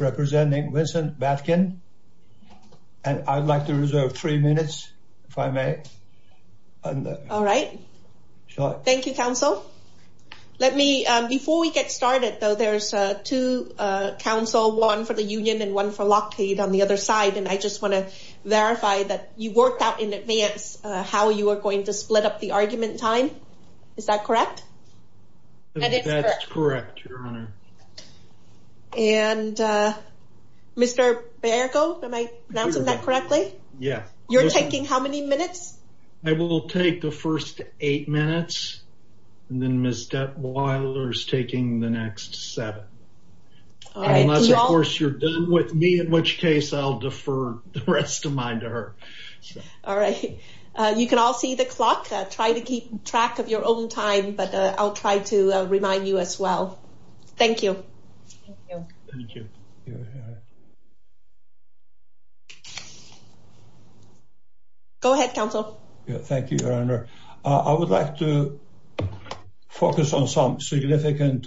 representing Vincent Badkin and I'd like to reserve three minutes if I may all right thank you counsel let me before we get started though there's two counsel one for the Union and one for Lockheed on the other side and I just want to verify that you worked out in advance how you are going to split up the Mr. Baergo am I pronouncing that correctly yes you're taking how many minutes I will take the first eight minutes and then Ms. Dept. Wyler's taking the next seven unless of course you're done with me in which case I'll defer the rest of mine to her all right you can all see the clock try to keep track of your own time but I'll try to remind you as well thank you go ahead counsel thank you your honor I would like to focus on some significant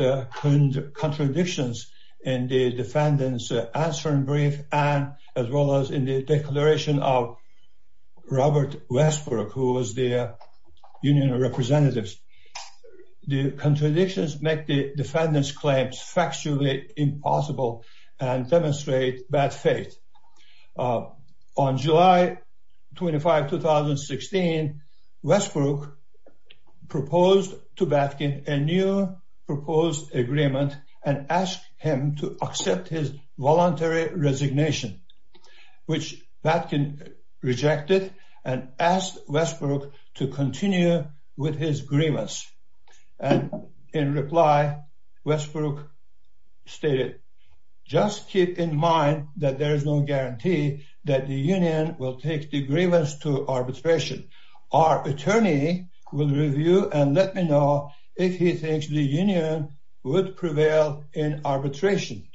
contradictions in the defendants answering brief and as well as in the declaration of Robert Westbrook who was their union representatives the contradictions make the defendants claims factually impossible and demonstrate bad faith on July 25 2016 Westbrook proposed to Badkin a new proposed agreement and asked him to accept his voluntary resignation which Badkin rejected and asked Westbrook to continue with his grievance and in reply Westbrook stated just keep in mind that there is no guarantee that the Union will take the grievance to arbitration our attorney will review and let me know if he thinks the Union would prevail in arbitration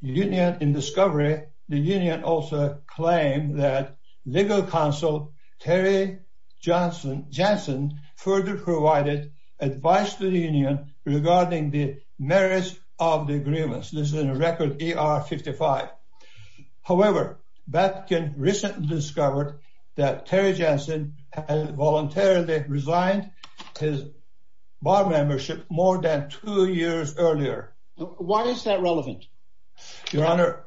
Union in discovery the Union also claimed that legal counsel Terry Johnson Jensen further provided advice to the Union regarding the merits of the agreements this is a record ER 55 however that can recently discovered that Terry Jensen has voluntarily resigned his bar why is that relevant your honor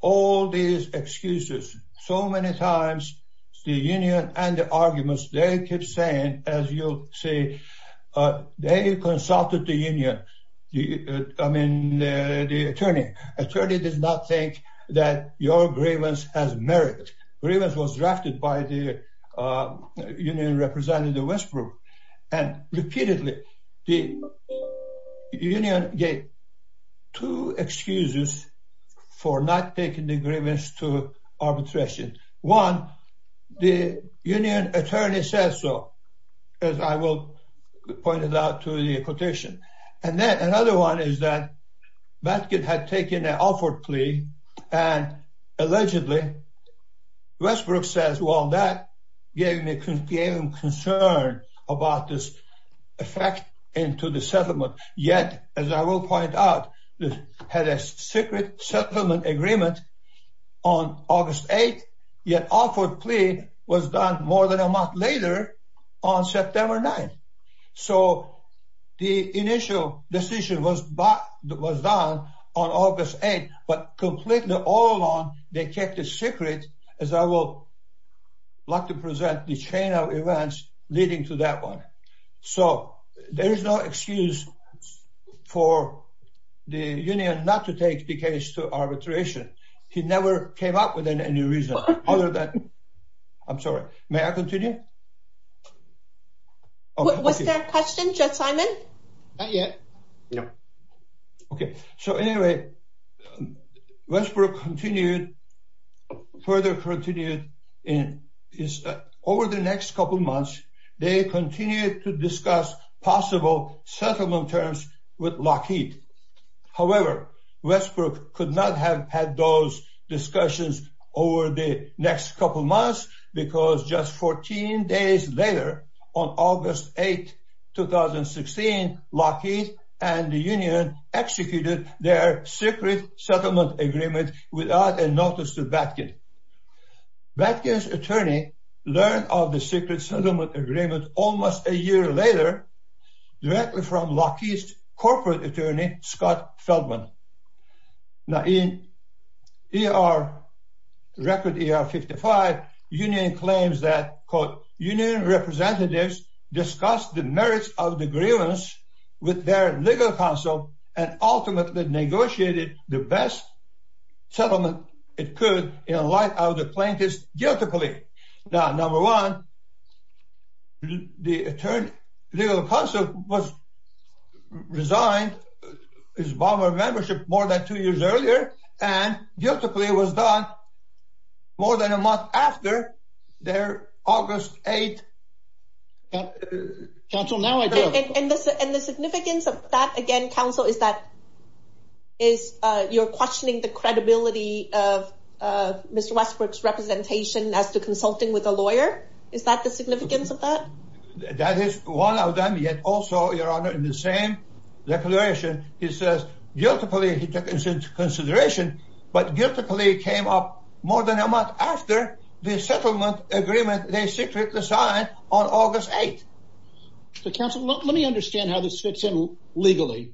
all these excuses so many times the Union and the arguments they keep saying as you say they consulted the Union I mean the attorney attorney did not think that your grievance has merit grievance was Union gave two excuses for not taking the grievance to arbitration one the Union attorney says so as I will point it out to the quotation and then another one is that that kid had taken an offer plea and allegedly Westbrook says well concern about this effect into the settlement yet as I will point out this had a secret settlement agreement on August 8th yet offered plea was done more than a month later on September 9th so the initial decision was but that was like to present the chain of events leading to that one so there is no excuse for the Union not to take the case to arbitration he never came up with in any reason other than I'm sorry may I continue what's their question just Simon yeah okay so anyway Westbrook continued further continued in over the next couple months they continued to discuss possible settlement terms with Lockheed however Westbrook could not have had those discussions over the next couple months because just 14 days later on August 8 2016 Lockheed and the Union executed their secret settlement agreement without a notice to back it back his attorney learned of the secret settlement agreement almost a year later directly from Lockheed's corporate attorney Scott Feldman now in ER record ER 55 Union claims that quote Union representatives discussed the merits of the grievance with their legal counsel and ultimately negotiated the best settlement it could you know like I was a plaintiff's guilty plea now number one the attorney legal counsel was resigned his bomber membership more than two years earlier and guilty plea was done more than a month after their August 8 council now I do and the significance of that again counsel is that is you're questioning the credibility of mr. Westbrook's representation as to consulting with a lawyer is that the significance of that that is one of them yet also your honor in the same declaration he says guilty plea he took into consideration but guilty plea came up more than a month after the settlement agreement they secretly signed August 8 the council let me understand how this fits in legally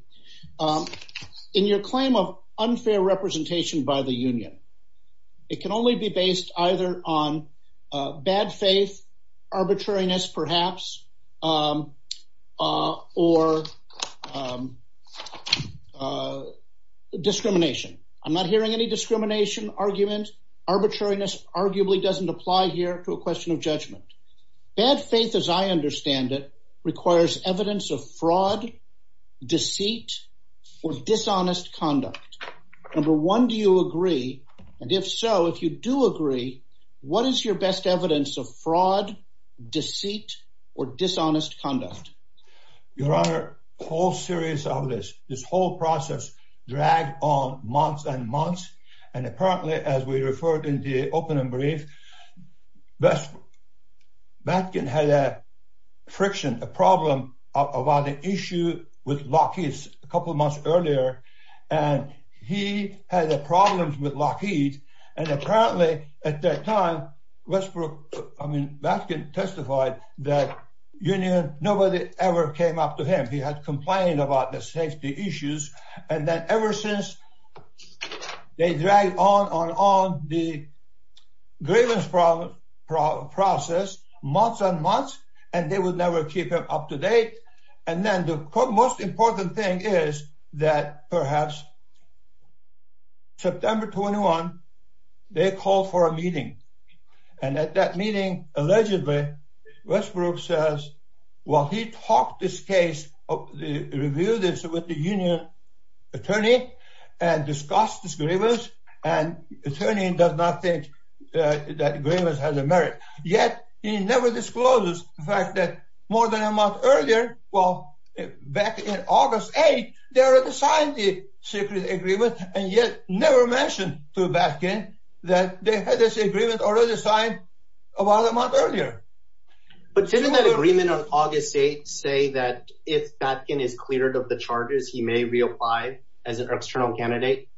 in your claim of unfair representation by the Union it can only be based either on bad faith arbitrariness perhaps or discrimination I'm not hearing any discrimination argument arbitrariness arguably doesn't apply here to a question of judgment bad faith as I understand it requires evidence of fraud deceit or dishonest conduct number one do you agree and if so if you do agree what is your best evidence of fraud deceit or dishonest conduct your honor whole series of this this whole process dragged on months and months and apparently as we referred in the opening brief best back in had a friction a problem about the issue with Lockheed's a couple months earlier and he had a problem with Lockheed and apparently at that time Westbrook I mean that can testify that Union nobody ever came up to him he had complained about the safety issues and that ever since they dragged on on on the grievance from process months and months and they would never keep him up to date and then the most important thing is that perhaps September 21 they called for a meeting and at that meeting allegedly Westbrook says well he talked this case of the review this with the Union attorney and discussed this grievance and attorney does not think that grievance has a merit yet he never disclosed the fact that more than a month earlier well back in August 8 they already signed the secret agreement and yet never mentioned to back in that they had this agreement already signed about a month earlier but agreement on August 8 say that if that can is cleared of the charges he may reapply as an external candidate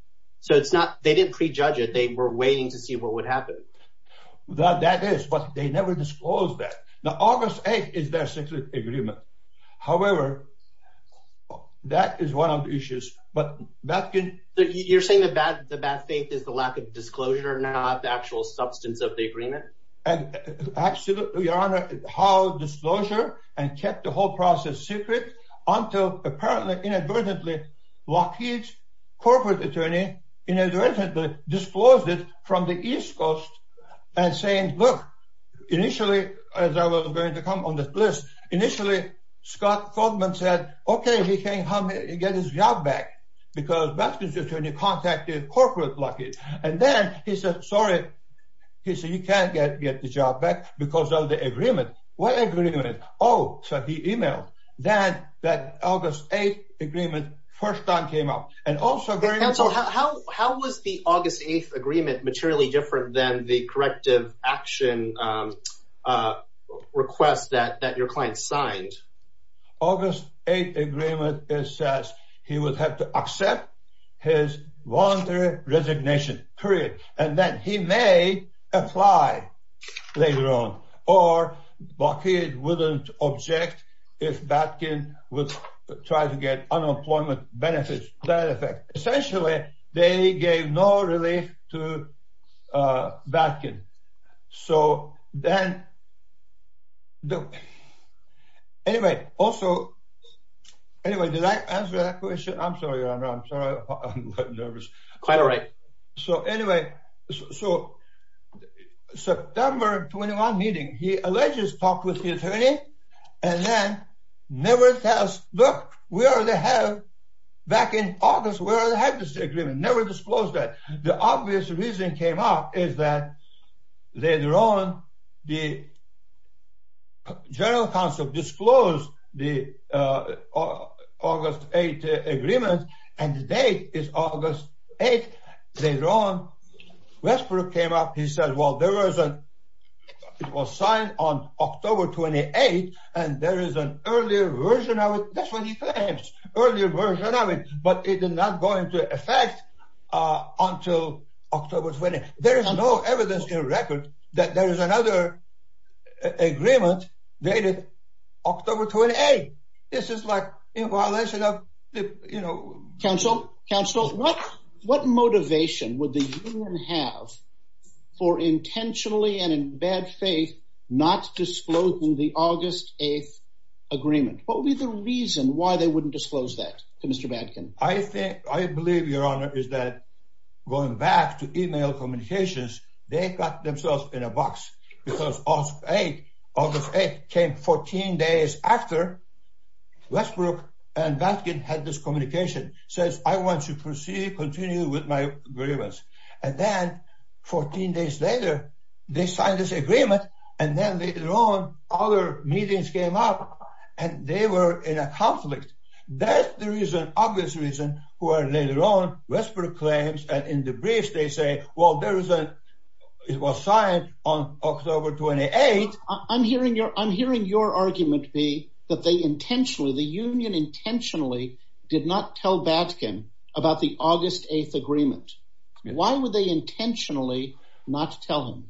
so it's not they didn't prejudge it they were waiting to see what would happen that that is but they never disclosed that now August 8 is their secret agreement however that is one of the issues but that good you're saying the bad the bad faith is the lack of disclosure not the substance of the agreement and how disclosure and kept the whole process secret until apparently inadvertently Lockheed's corporate attorney in a directed but disclosed it from the East Coast and saying look initially as I was going to come on this list initially Scott Goldman said okay he can't help me get his job back because that's just when you contacted corporate lucky and then he said sorry he said you can't get get the job back because of the agreement what agreement oh so he emailed that that August 8th agreement first time came up and also how how was the August 8th agreement materially different than the corrective action request that that your client signed August 8 agreement it says he would have to accept his voluntary resignation period and then he may apply later on or Lockheed wouldn't object if Batkin would try to get unemployment benefits that effect essentially they gave no relief to Batkin so then the anyway also anyway did I answer that question I'm nervous quite all right so anyway so September 21 meeting he alleges talked with the attorney and then never tells look we already have back in August where I had this agreement never disclosed that the obvious reason came up is that later on the General Counsel disclosed the August 8 agreement and the date is August 8 later on Westbrook came up he said well there was a it was signed on October 28 and there is an earlier version of it that's what he claims earlier version of it but it is not going to affect until October 20 there is no evidence in record that there is another agreement dated October 28 this is like you know counsel counsel what what motivation would the union have for intentionally and in bad faith not disclosing the August 8th agreement what would be the reason why they wouldn't disclose that to mr. Batkin I think I believe your honor is that going back to email communications they got themselves in a box because of a of the faith came 14 days after Westbrook and Batkin had this communication says I want to proceed continue with my agreements and then 14 days later they signed this agreement and then later on other meetings came up and they were in a conflict that's the reason obvious reason who are later on Westbrook claims and in the briefs they well there is a it was signed on October 28 I'm hearing your I'm hearing your argument be that they intentionally the Union intentionally did not tell Batkin about the August 8th agreement why would they intentionally not tell him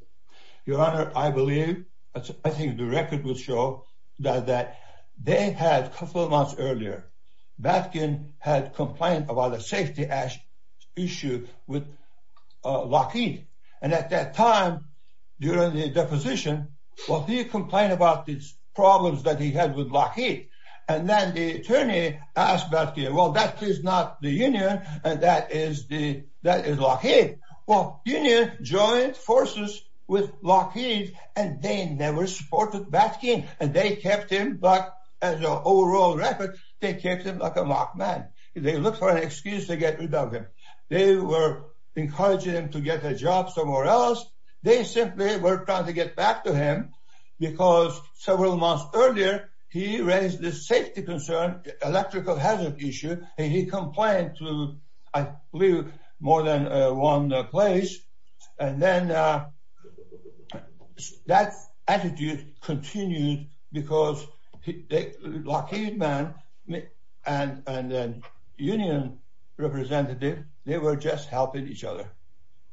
your honor I believe I think the record will show that that they had a couple of earlier Batkin had complained about a safety ash issue with Lockheed and at that time during the deposition what do you complain about these problems that he had with Lockheed and then the attorney asked back here well that is not the Union and that is the that is Lockheed well Union joint forces with Lockheed and they never supported Batkin and they kept him but as an overall record they kept him like a mock man if they look for an excuse to get rid of him they were encouraging him to get a job somewhere else they simply were trying to get back to him because several months earlier he raised the safety concern electrical hazard issue and he complained to I believe more than one place and then that attitude continued because Lockheed man and then Union representative they were just helping each other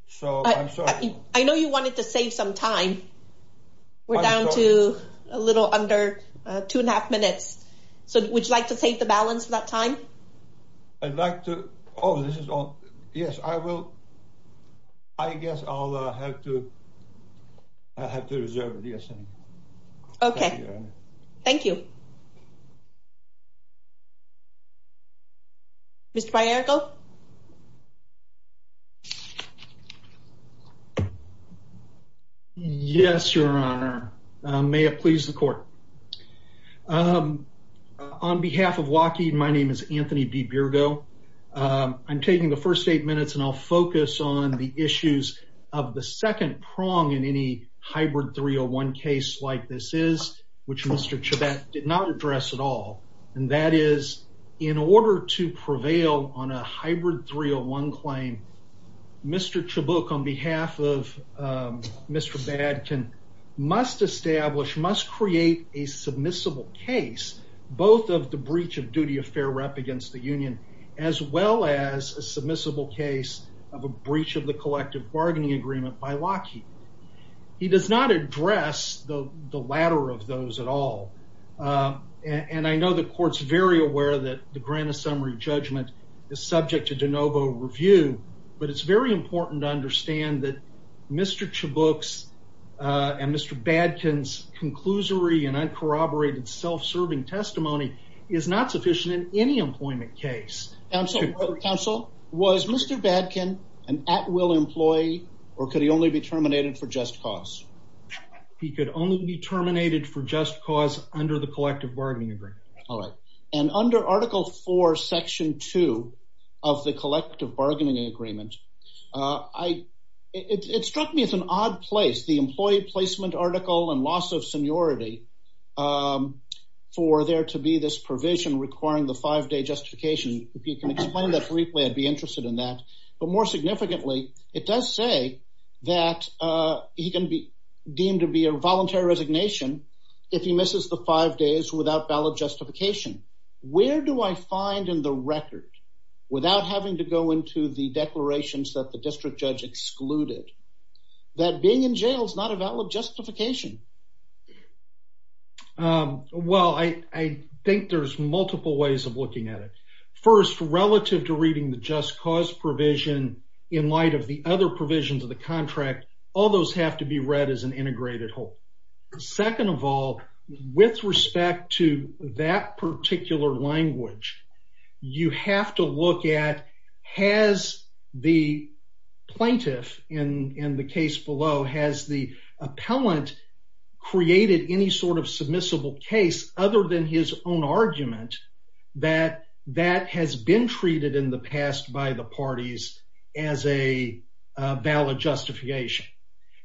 so I'm sorry I know you wanted to save some time we're down to a little under two and a half minutes so would you like to take the balance for that time I'd like to oh this is all yes I will I guess I'll have to I have to reserve it yes okay thank you mr. Piergo yes your honor may it please the court on behalf of Lockheed my name is Anthony be beer go I'm taking the first eight minutes and I'll focus on the issues of the second prong in any hybrid 301 case like this is which mr. Chabot did not address at all and that is in order to prevail on a hybrid 301 claim mr. Chabot on behalf of mr. bad can must establish must create a rep against the Union as well as a submissible case of a breach of the collective bargaining agreement by Lockheed he does not address the the latter of those at all and I know the courts very aware that the grant a summary judgment is subject to de novo review but it's very important to understand that mr. two books and mr. badkins conclusory and I corroborated self-serving testimony is not sufficient in any employment case I'm sorry counsel was mr. bad can and at will employee or could he only be terminated for just cause he could only be terminated for just cause under the collective bargaining agreement all right and under article 4 section 2 of the collective bargaining agreement I it struck me as an odd place the employee placement article and loss of seniority for there to be this provision requiring the five-day justification if you can explain that briefly I'd be interested in that but more significantly it does say that he can be deemed to be a voluntary resignation if he misses the five days without ballot justification where do I find in the record without having to go into the declarations that the district judge excluded that being in jail is not a valid justification well I think there's multiple ways of looking at it first relative to reading the just cause provision in light of the other provisions of the contract all those have to be read as an integrated whole second of all with respect to that particular language you have to look at has the plaintiff in in the case below has the appellant created any sort of submissible case other than his own argument that that has been treated in the past by the parties as a valid justification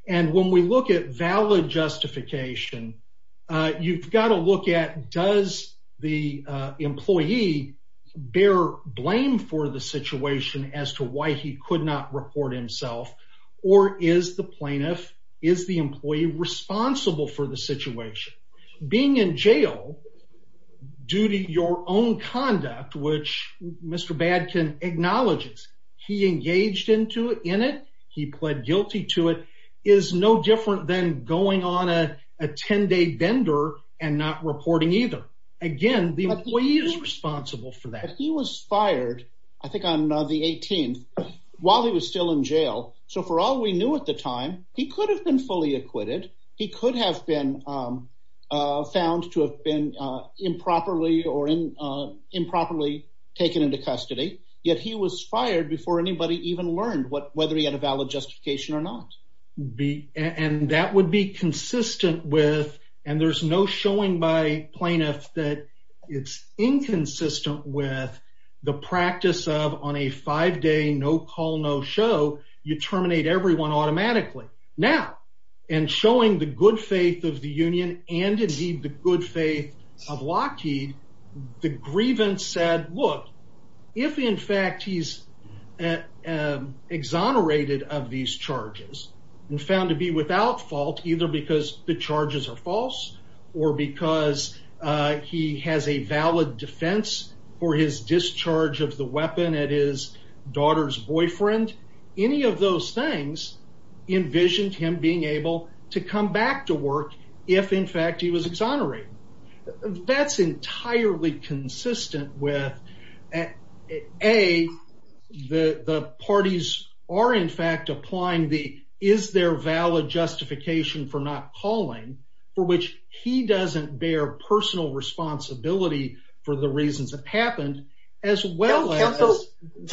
and when we look at valid justification you've got to look at does the employee bear blame for the situation as to why he could not report himself or is the plaintiff is the employee responsible for the situation being in jail due to your own conduct which Mr. Badkin acknowledges he engaged into it in it he pled guilty to it is no different than going on a 10-day vendor and not reporting either again the employee is responsible for that he was fired I think I'm not the 18th while he was still in jail so for all we knew at the time he could have been fully acquitted he could have been found to have been improperly or in improperly taken into custody yet he was fired before anybody even learned what whether he had a valid justification or not be and that would be consistent with and there's no showing by plaintiffs that it's inconsistent with the practice of on a five-day no call no show you terminate everyone automatically now and showing the good faith of the Union and indeed the good faith of Lockheed the grievance said look if in fact he's exonerated of these charges and found to be without fault either because the charges are false or because he has a valid defense for his discharge of the weapon at his daughter's boyfriend any of those things envisioned him being able to come back to work if in fact he was exonerated that's entirely consistent with a the parties are in fact applying the is there valid justification for not calling for which he doesn't bear personal responsibility for the reasons that happened as well as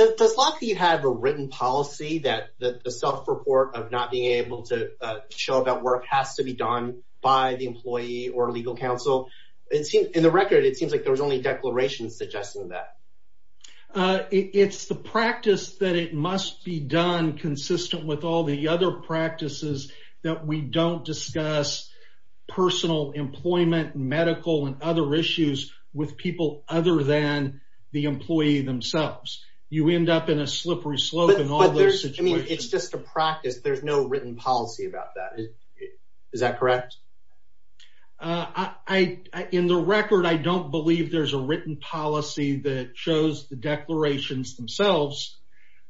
does Lockheed have a written policy that the self report of not being able to show about work has to be done by the employee or legal counsel it seemed in the record it seems like there was only declarations suggesting that it's the practice that it must be done consistent with all the other practices that we don't discuss personal employment medical and other issues with people other than the employee themselves you end up in a slippery slope in all their situation it's just a practice there's no written policy about that is that correct I in the record I don't believe there's a policy that shows the declarations themselves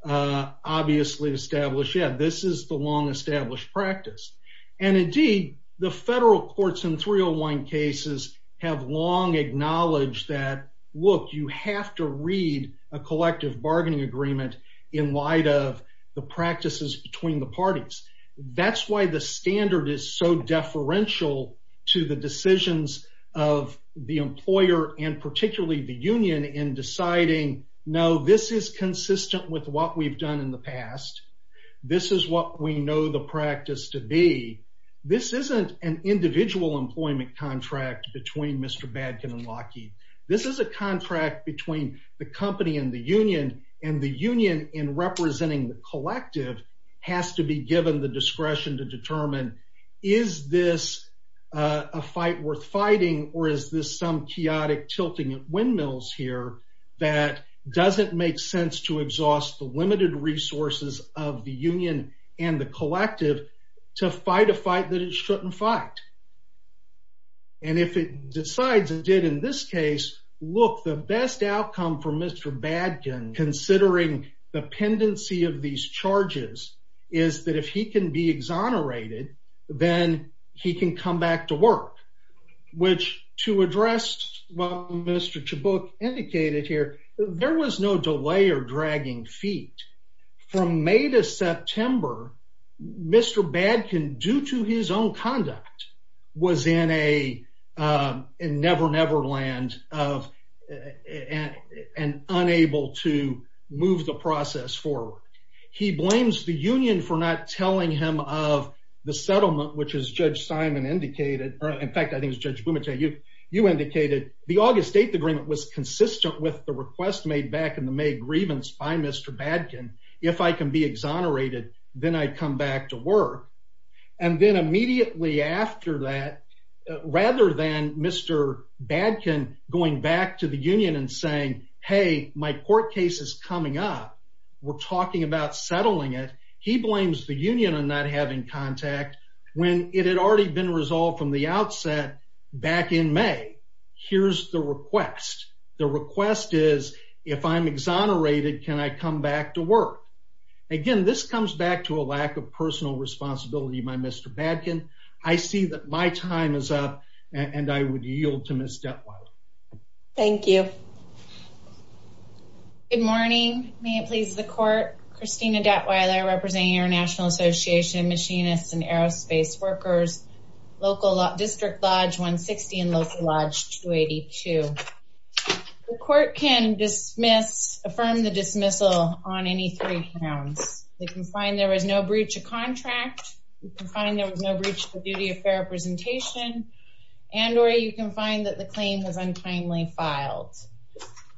obviously established yet this is the long established practice and indeed the federal courts in 301 cases have long acknowledged that look you have to read a collective bargaining agreement in light of the practices between the parties that's why the standard is so deferential to the decisions of the employer and particularly the union in deciding no this is consistent with what we've done in the past this is what we know the practice to be this isn't an individual employment contract between mr. bad can and Lockheed this is a contract between the company and the union and the union in representing the collective has to be given the discretion to determine is this a fight worth fighting or is this some chaotic tilting at windmills here that doesn't make sense to exhaust the limited resources of the union and the collective to fight a fight that it shouldn't fight and if it decides it did in this case look the best outcome for mr. bad can considering the pendency of these charges is that if he can be indicated here there was no delay or dragging feet from May to September mr. bad can due to his own conduct was in a never-never land of and unable to move the process forward he blames the union for not telling him of the settlement which is judge Simon indicated in fact I think is judge Bumate you you indicated the August 8th agreement was consistent with the request made back in the May grievance by mr. bad can if I can be exonerated then I'd come back to work and then immediately after that rather than mr. bad can going back to the union and saying hey my court case is coming up we're talking about having contact when it had already been resolved from the outset back in May here's the request the request is if I'm exonerated can I come back to work again this comes back to a lack of personal responsibility by mr. bad can I see that my time is up and I would yield to miss that one thank you good morning may it please the court Christina debt while I represent your national association machinists and aerospace workers local district Lodge 160 and local lodge 282 the court can dismiss affirm the dismissal on any three pounds they can find there was no breach of contract you can find there was no breach the duty of fair presentation and or you can find that the claim has untimely filed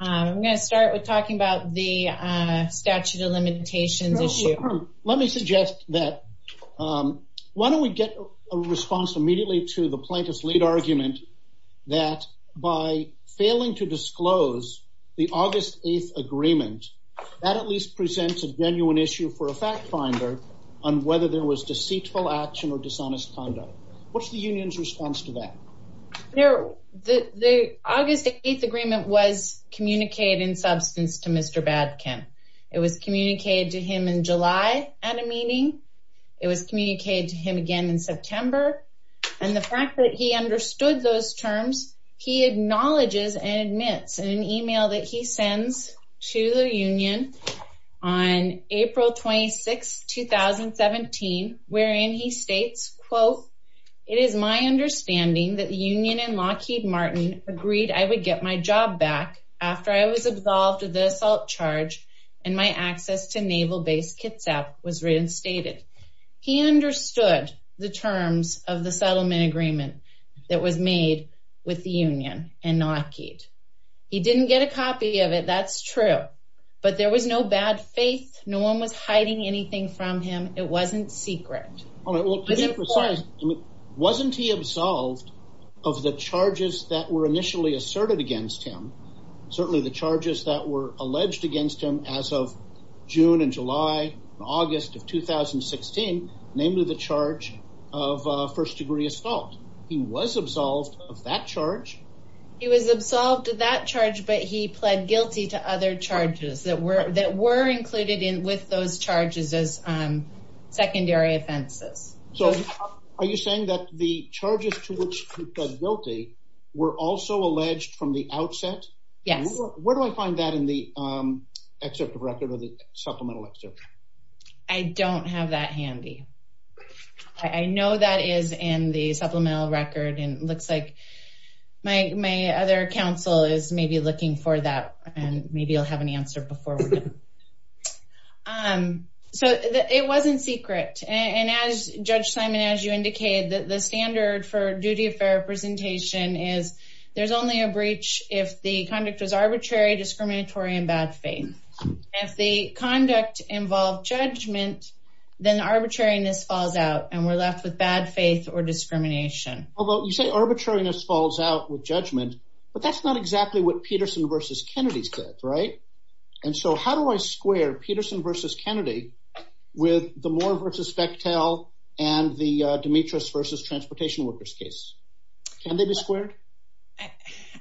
I'm gonna start with talking about the statute of that why don't we get a response immediately to the plaintiff's lead argument that by failing to disclose the August 8th agreement that at least presents a genuine issue for a fact-finder on whether there was deceitful action or dishonest conduct what's the Union's response to that there the August 8th agreement was communicated in substance to mr. bad can it was communicated to him in July at a meeting it was communicated to him again in September and the fact that he understood those terms he acknowledges and admits in an email that he sends to the Union on April 26 2017 wherein he states quote it is my understanding that the Union and Lockheed Martin agreed I would get my job back after I was absolved of the assault charge and my access to naval base Kitsap was reinstated he understood the terms of the settlement agreement that was made with the Union and Lockheed he didn't get a copy of it that's true but there was no bad faith no one was hiding anything from him it wasn't secret wasn't he absolved of the charges that were initially asserted against him certainly the charges that were alleged against him as of June and July August of 2016 namely the charge of first degree assault he was absolved of that charge he was absolved of that charge but he pled guilty to other charges that were that were included in with those charges as secondary offenses so are you saying that the charges to which guilty were also alleged from the outset yes where do I find that in the excerpt of record or the supplemental excerpt I don't have that handy I know that is in the supplemental record and looks like my other counsel is maybe looking for that and maybe you'll have an answer before we do so it wasn't secret and as Simon as you indicated that the standard for duty of representation is there's only a breach if the conduct was arbitrary discriminatory and bad faith if the conduct involved judgment then arbitrariness falls out and we're left with bad faith or discrimination although you say arbitrariness falls out with judgment but that's not exactly what Peterson versus Kennedy's good right and so how do I square Peterson versus Kennedy with the Moore versus Bechtel and the Demetrius versus transportation workers case can they be squared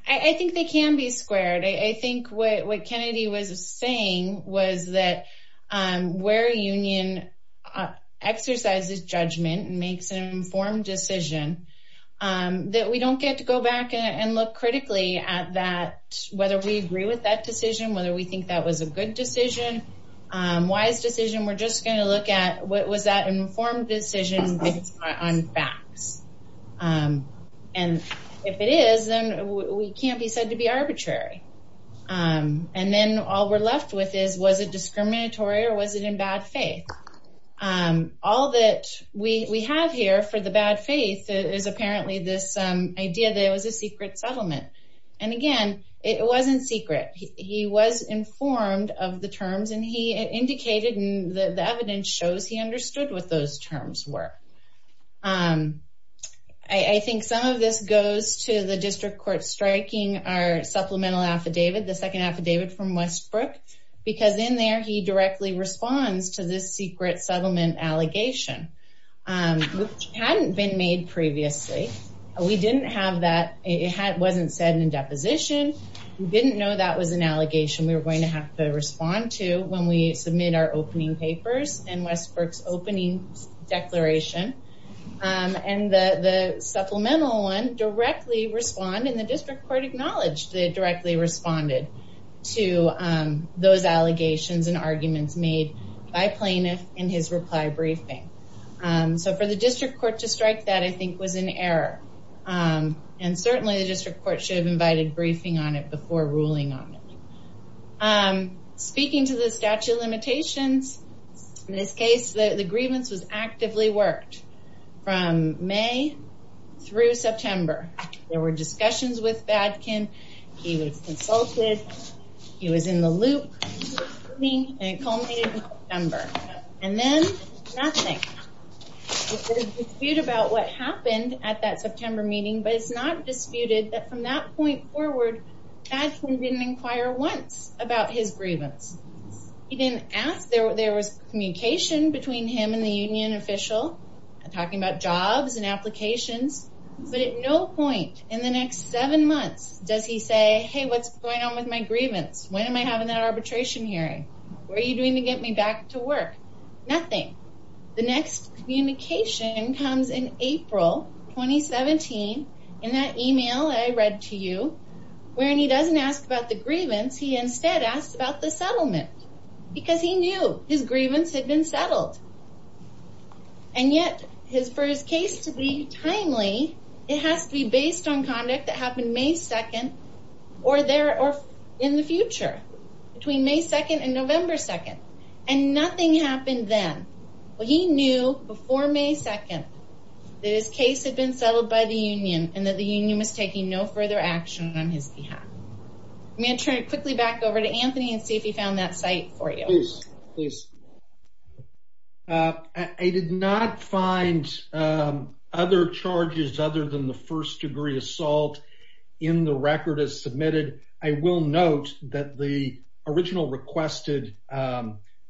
I think they can be squared I think what Kennedy was saying was that where Union exercises judgment and makes an informed decision that we don't get to go back and look critically at that whether we agree with that decision whether we think that was a good decision wise decision we're just going to look at what was that informed decision on facts and if it is then we can't be said to be arbitrary and then all we're left with is was a discriminatory or was it in bad faith all that we have here for the bad faith is apparently this idea there was a secret settlement and again it wasn't secret he was informed of the terms and he indicated and the evidence shows he understood what those terms were I think some of this goes to the district court striking our supplemental affidavit the second affidavit from Westbrook because in there he directly responds to this secret settlement allegation which hadn't been made previously we didn't have that it had wasn't said in position didn't know that was an allegation we were going to have to respond to when we submit our opening papers and Westbrook's opening declaration and the the supplemental one directly respond in the district court acknowledged they directly responded to those allegations and arguments made by plaintiff in his reply briefing so for the district court to strike that I and certainly the district court should have invited briefing on it before ruling on it I'm speaking to the statute of limitations in this case the grievance was actively worked from May through September there were discussions with Badkin he was consulted he was in the loop me and it culminated in September and then nothing. There was a dispute about what happened at that September meeting but it's not disputed that from that point forward Badkin didn't inquire once about his grievance he didn't ask there there was communication between him and the Union official talking about jobs and applications but at no point in the next seven months does he say hey what's going on with my grievance when am I having that arbitration hearing were you doing to get me back to work nothing the next communication comes in April 2017 in that email I read to you wherein he doesn't ask about the grievance he instead asked about the settlement because he knew his grievance had been settled and yet his first case to be timely it has to be based on conduct that happened May 2nd or there or in the future between May 2nd and November 2nd and nothing happened then well he knew before May 2nd that his case had been settled by the Union and that the Union was taking no further action on his behalf. I'm going to turn it quickly back over to Anthony and see if he found that site for you. Please. I did not find other charges other than the first degree assault in the record as submitted I will note that the original requested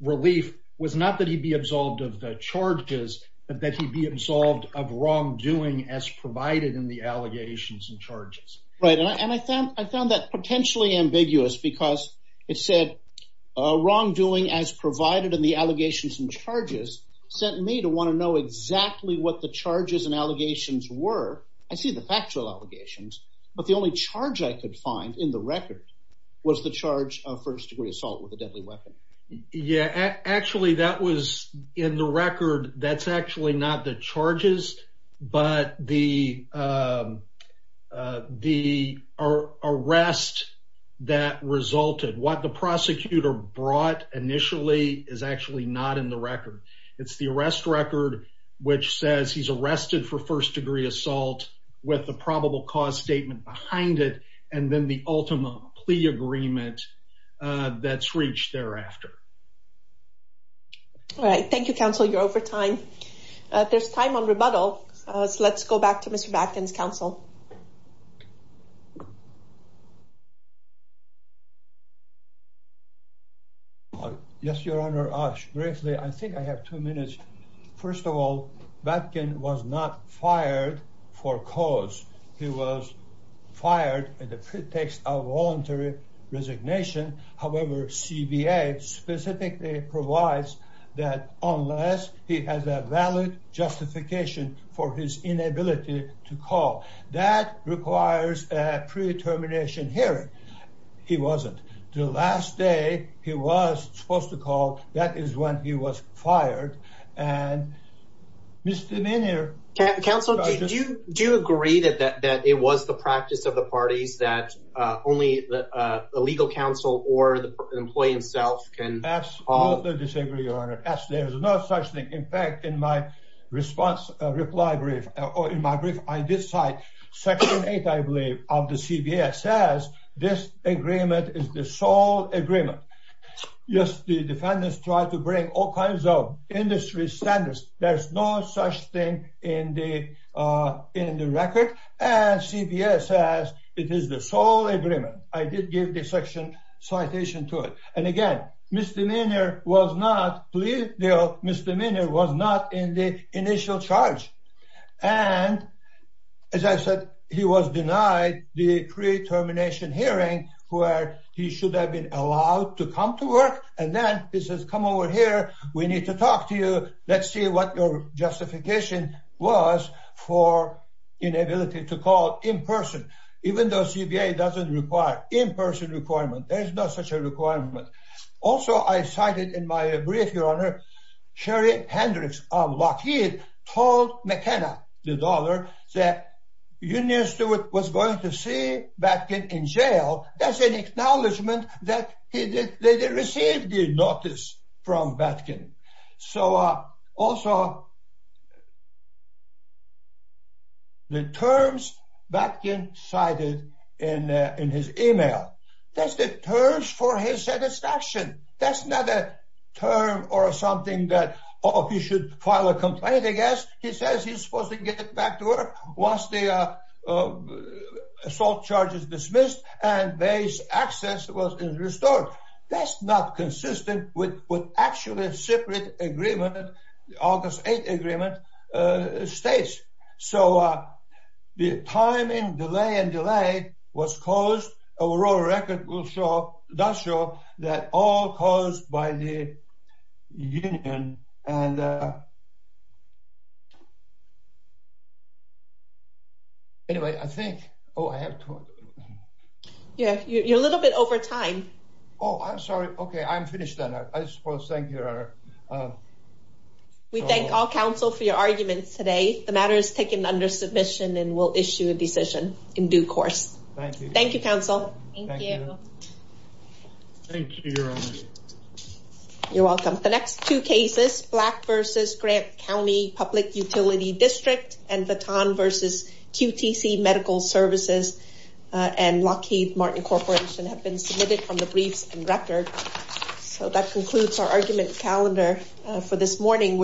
relief was not that he be absolved of the charges but that he be absolved of wrongdoing as provided in the allegations and charges. Right and I found I found that potentially ambiguous because it said wrongdoing as provided in the allegations and charges sent me to want to know exactly what the charges and allegations were I see the factual allegations but the only charge I could find in the record was the charge of first-degree assault with a deadly weapon. Yeah actually that was in the record that's actually not the charges but the the arrest that resulted what the prosecutor brought initially is actually not in the record. It's the arrest record which says he's arrested for first-degree assault with a probable cause statement behind it and then the ultima plea agreement that's reached thereafter. All right thank you counsel you're over time. There's time on rebuttal so let's go back to Mr. Bakhtin's Yes your honor briefly I think I have two minutes first of all Bakhtin was not fired for cause he was fired in the pretext of voluntary resignation however CBA specifically provides that unless he has a valid justification for his requires a pre-determination hearing he wasn't. The last day he was supposed to call that is when he was fired and misdemeanor. Counsel do you do agree that that it was the practice of the parties that only the legal counsel or the employee himself can. Absolutely disagree your honor as there's no such thing in my response reply brief or in my brief I did cite section 8 I believe of the CBS says this agreement is the sole agreement. Yes the defendants try to bring all kinds of industry standards there's no such thing in the in the record and CBS says it is the sole agreement. I did give the section citation to it and again misdemeanor was not plea deal misdemeanor was not in the initial charge and as I said he was denied the pre-termination hearing where he should have been allowed to come to work and then he says come over here we need to talk to you let's see what your justification was for inability to call in person even though CBA doesn't require in-person requirement there's no such a requirement. Also I cited in my brief your honor Sherry Hendricks of Lockheed told McKenna the daughter that union steward was going to see Batkin in jail that's an acknowledgment that he did they did receive the notice from Batkin. So also the terms Batkin cited in in his email that's the terms for his satisfaction that's not a term or something that oh he should file a complaint I guess he says he's supposed to get back to work once the assault charge is dismissed and base access was restored that's not consistent with what actually separate agreement August 8th agreement states so the timing delay was caused a world record will show that all caused by the union and anyway I think oh I have to yeah you're a little bit over time oh I'm sorry okay I'm finished then I suppose thank you. We thank all counsel for your arguments today the matter is taken under submission and we'll issue a decision in due course. Thank you counsel. Thank you. You're welcome. The next two cases Black versus Grant County Public Utility District and Baton versus QTC Medical Services and Lockheed Martin Corporation have been submitted from the briefs and record so that concludes our argument calendar for this morning we're in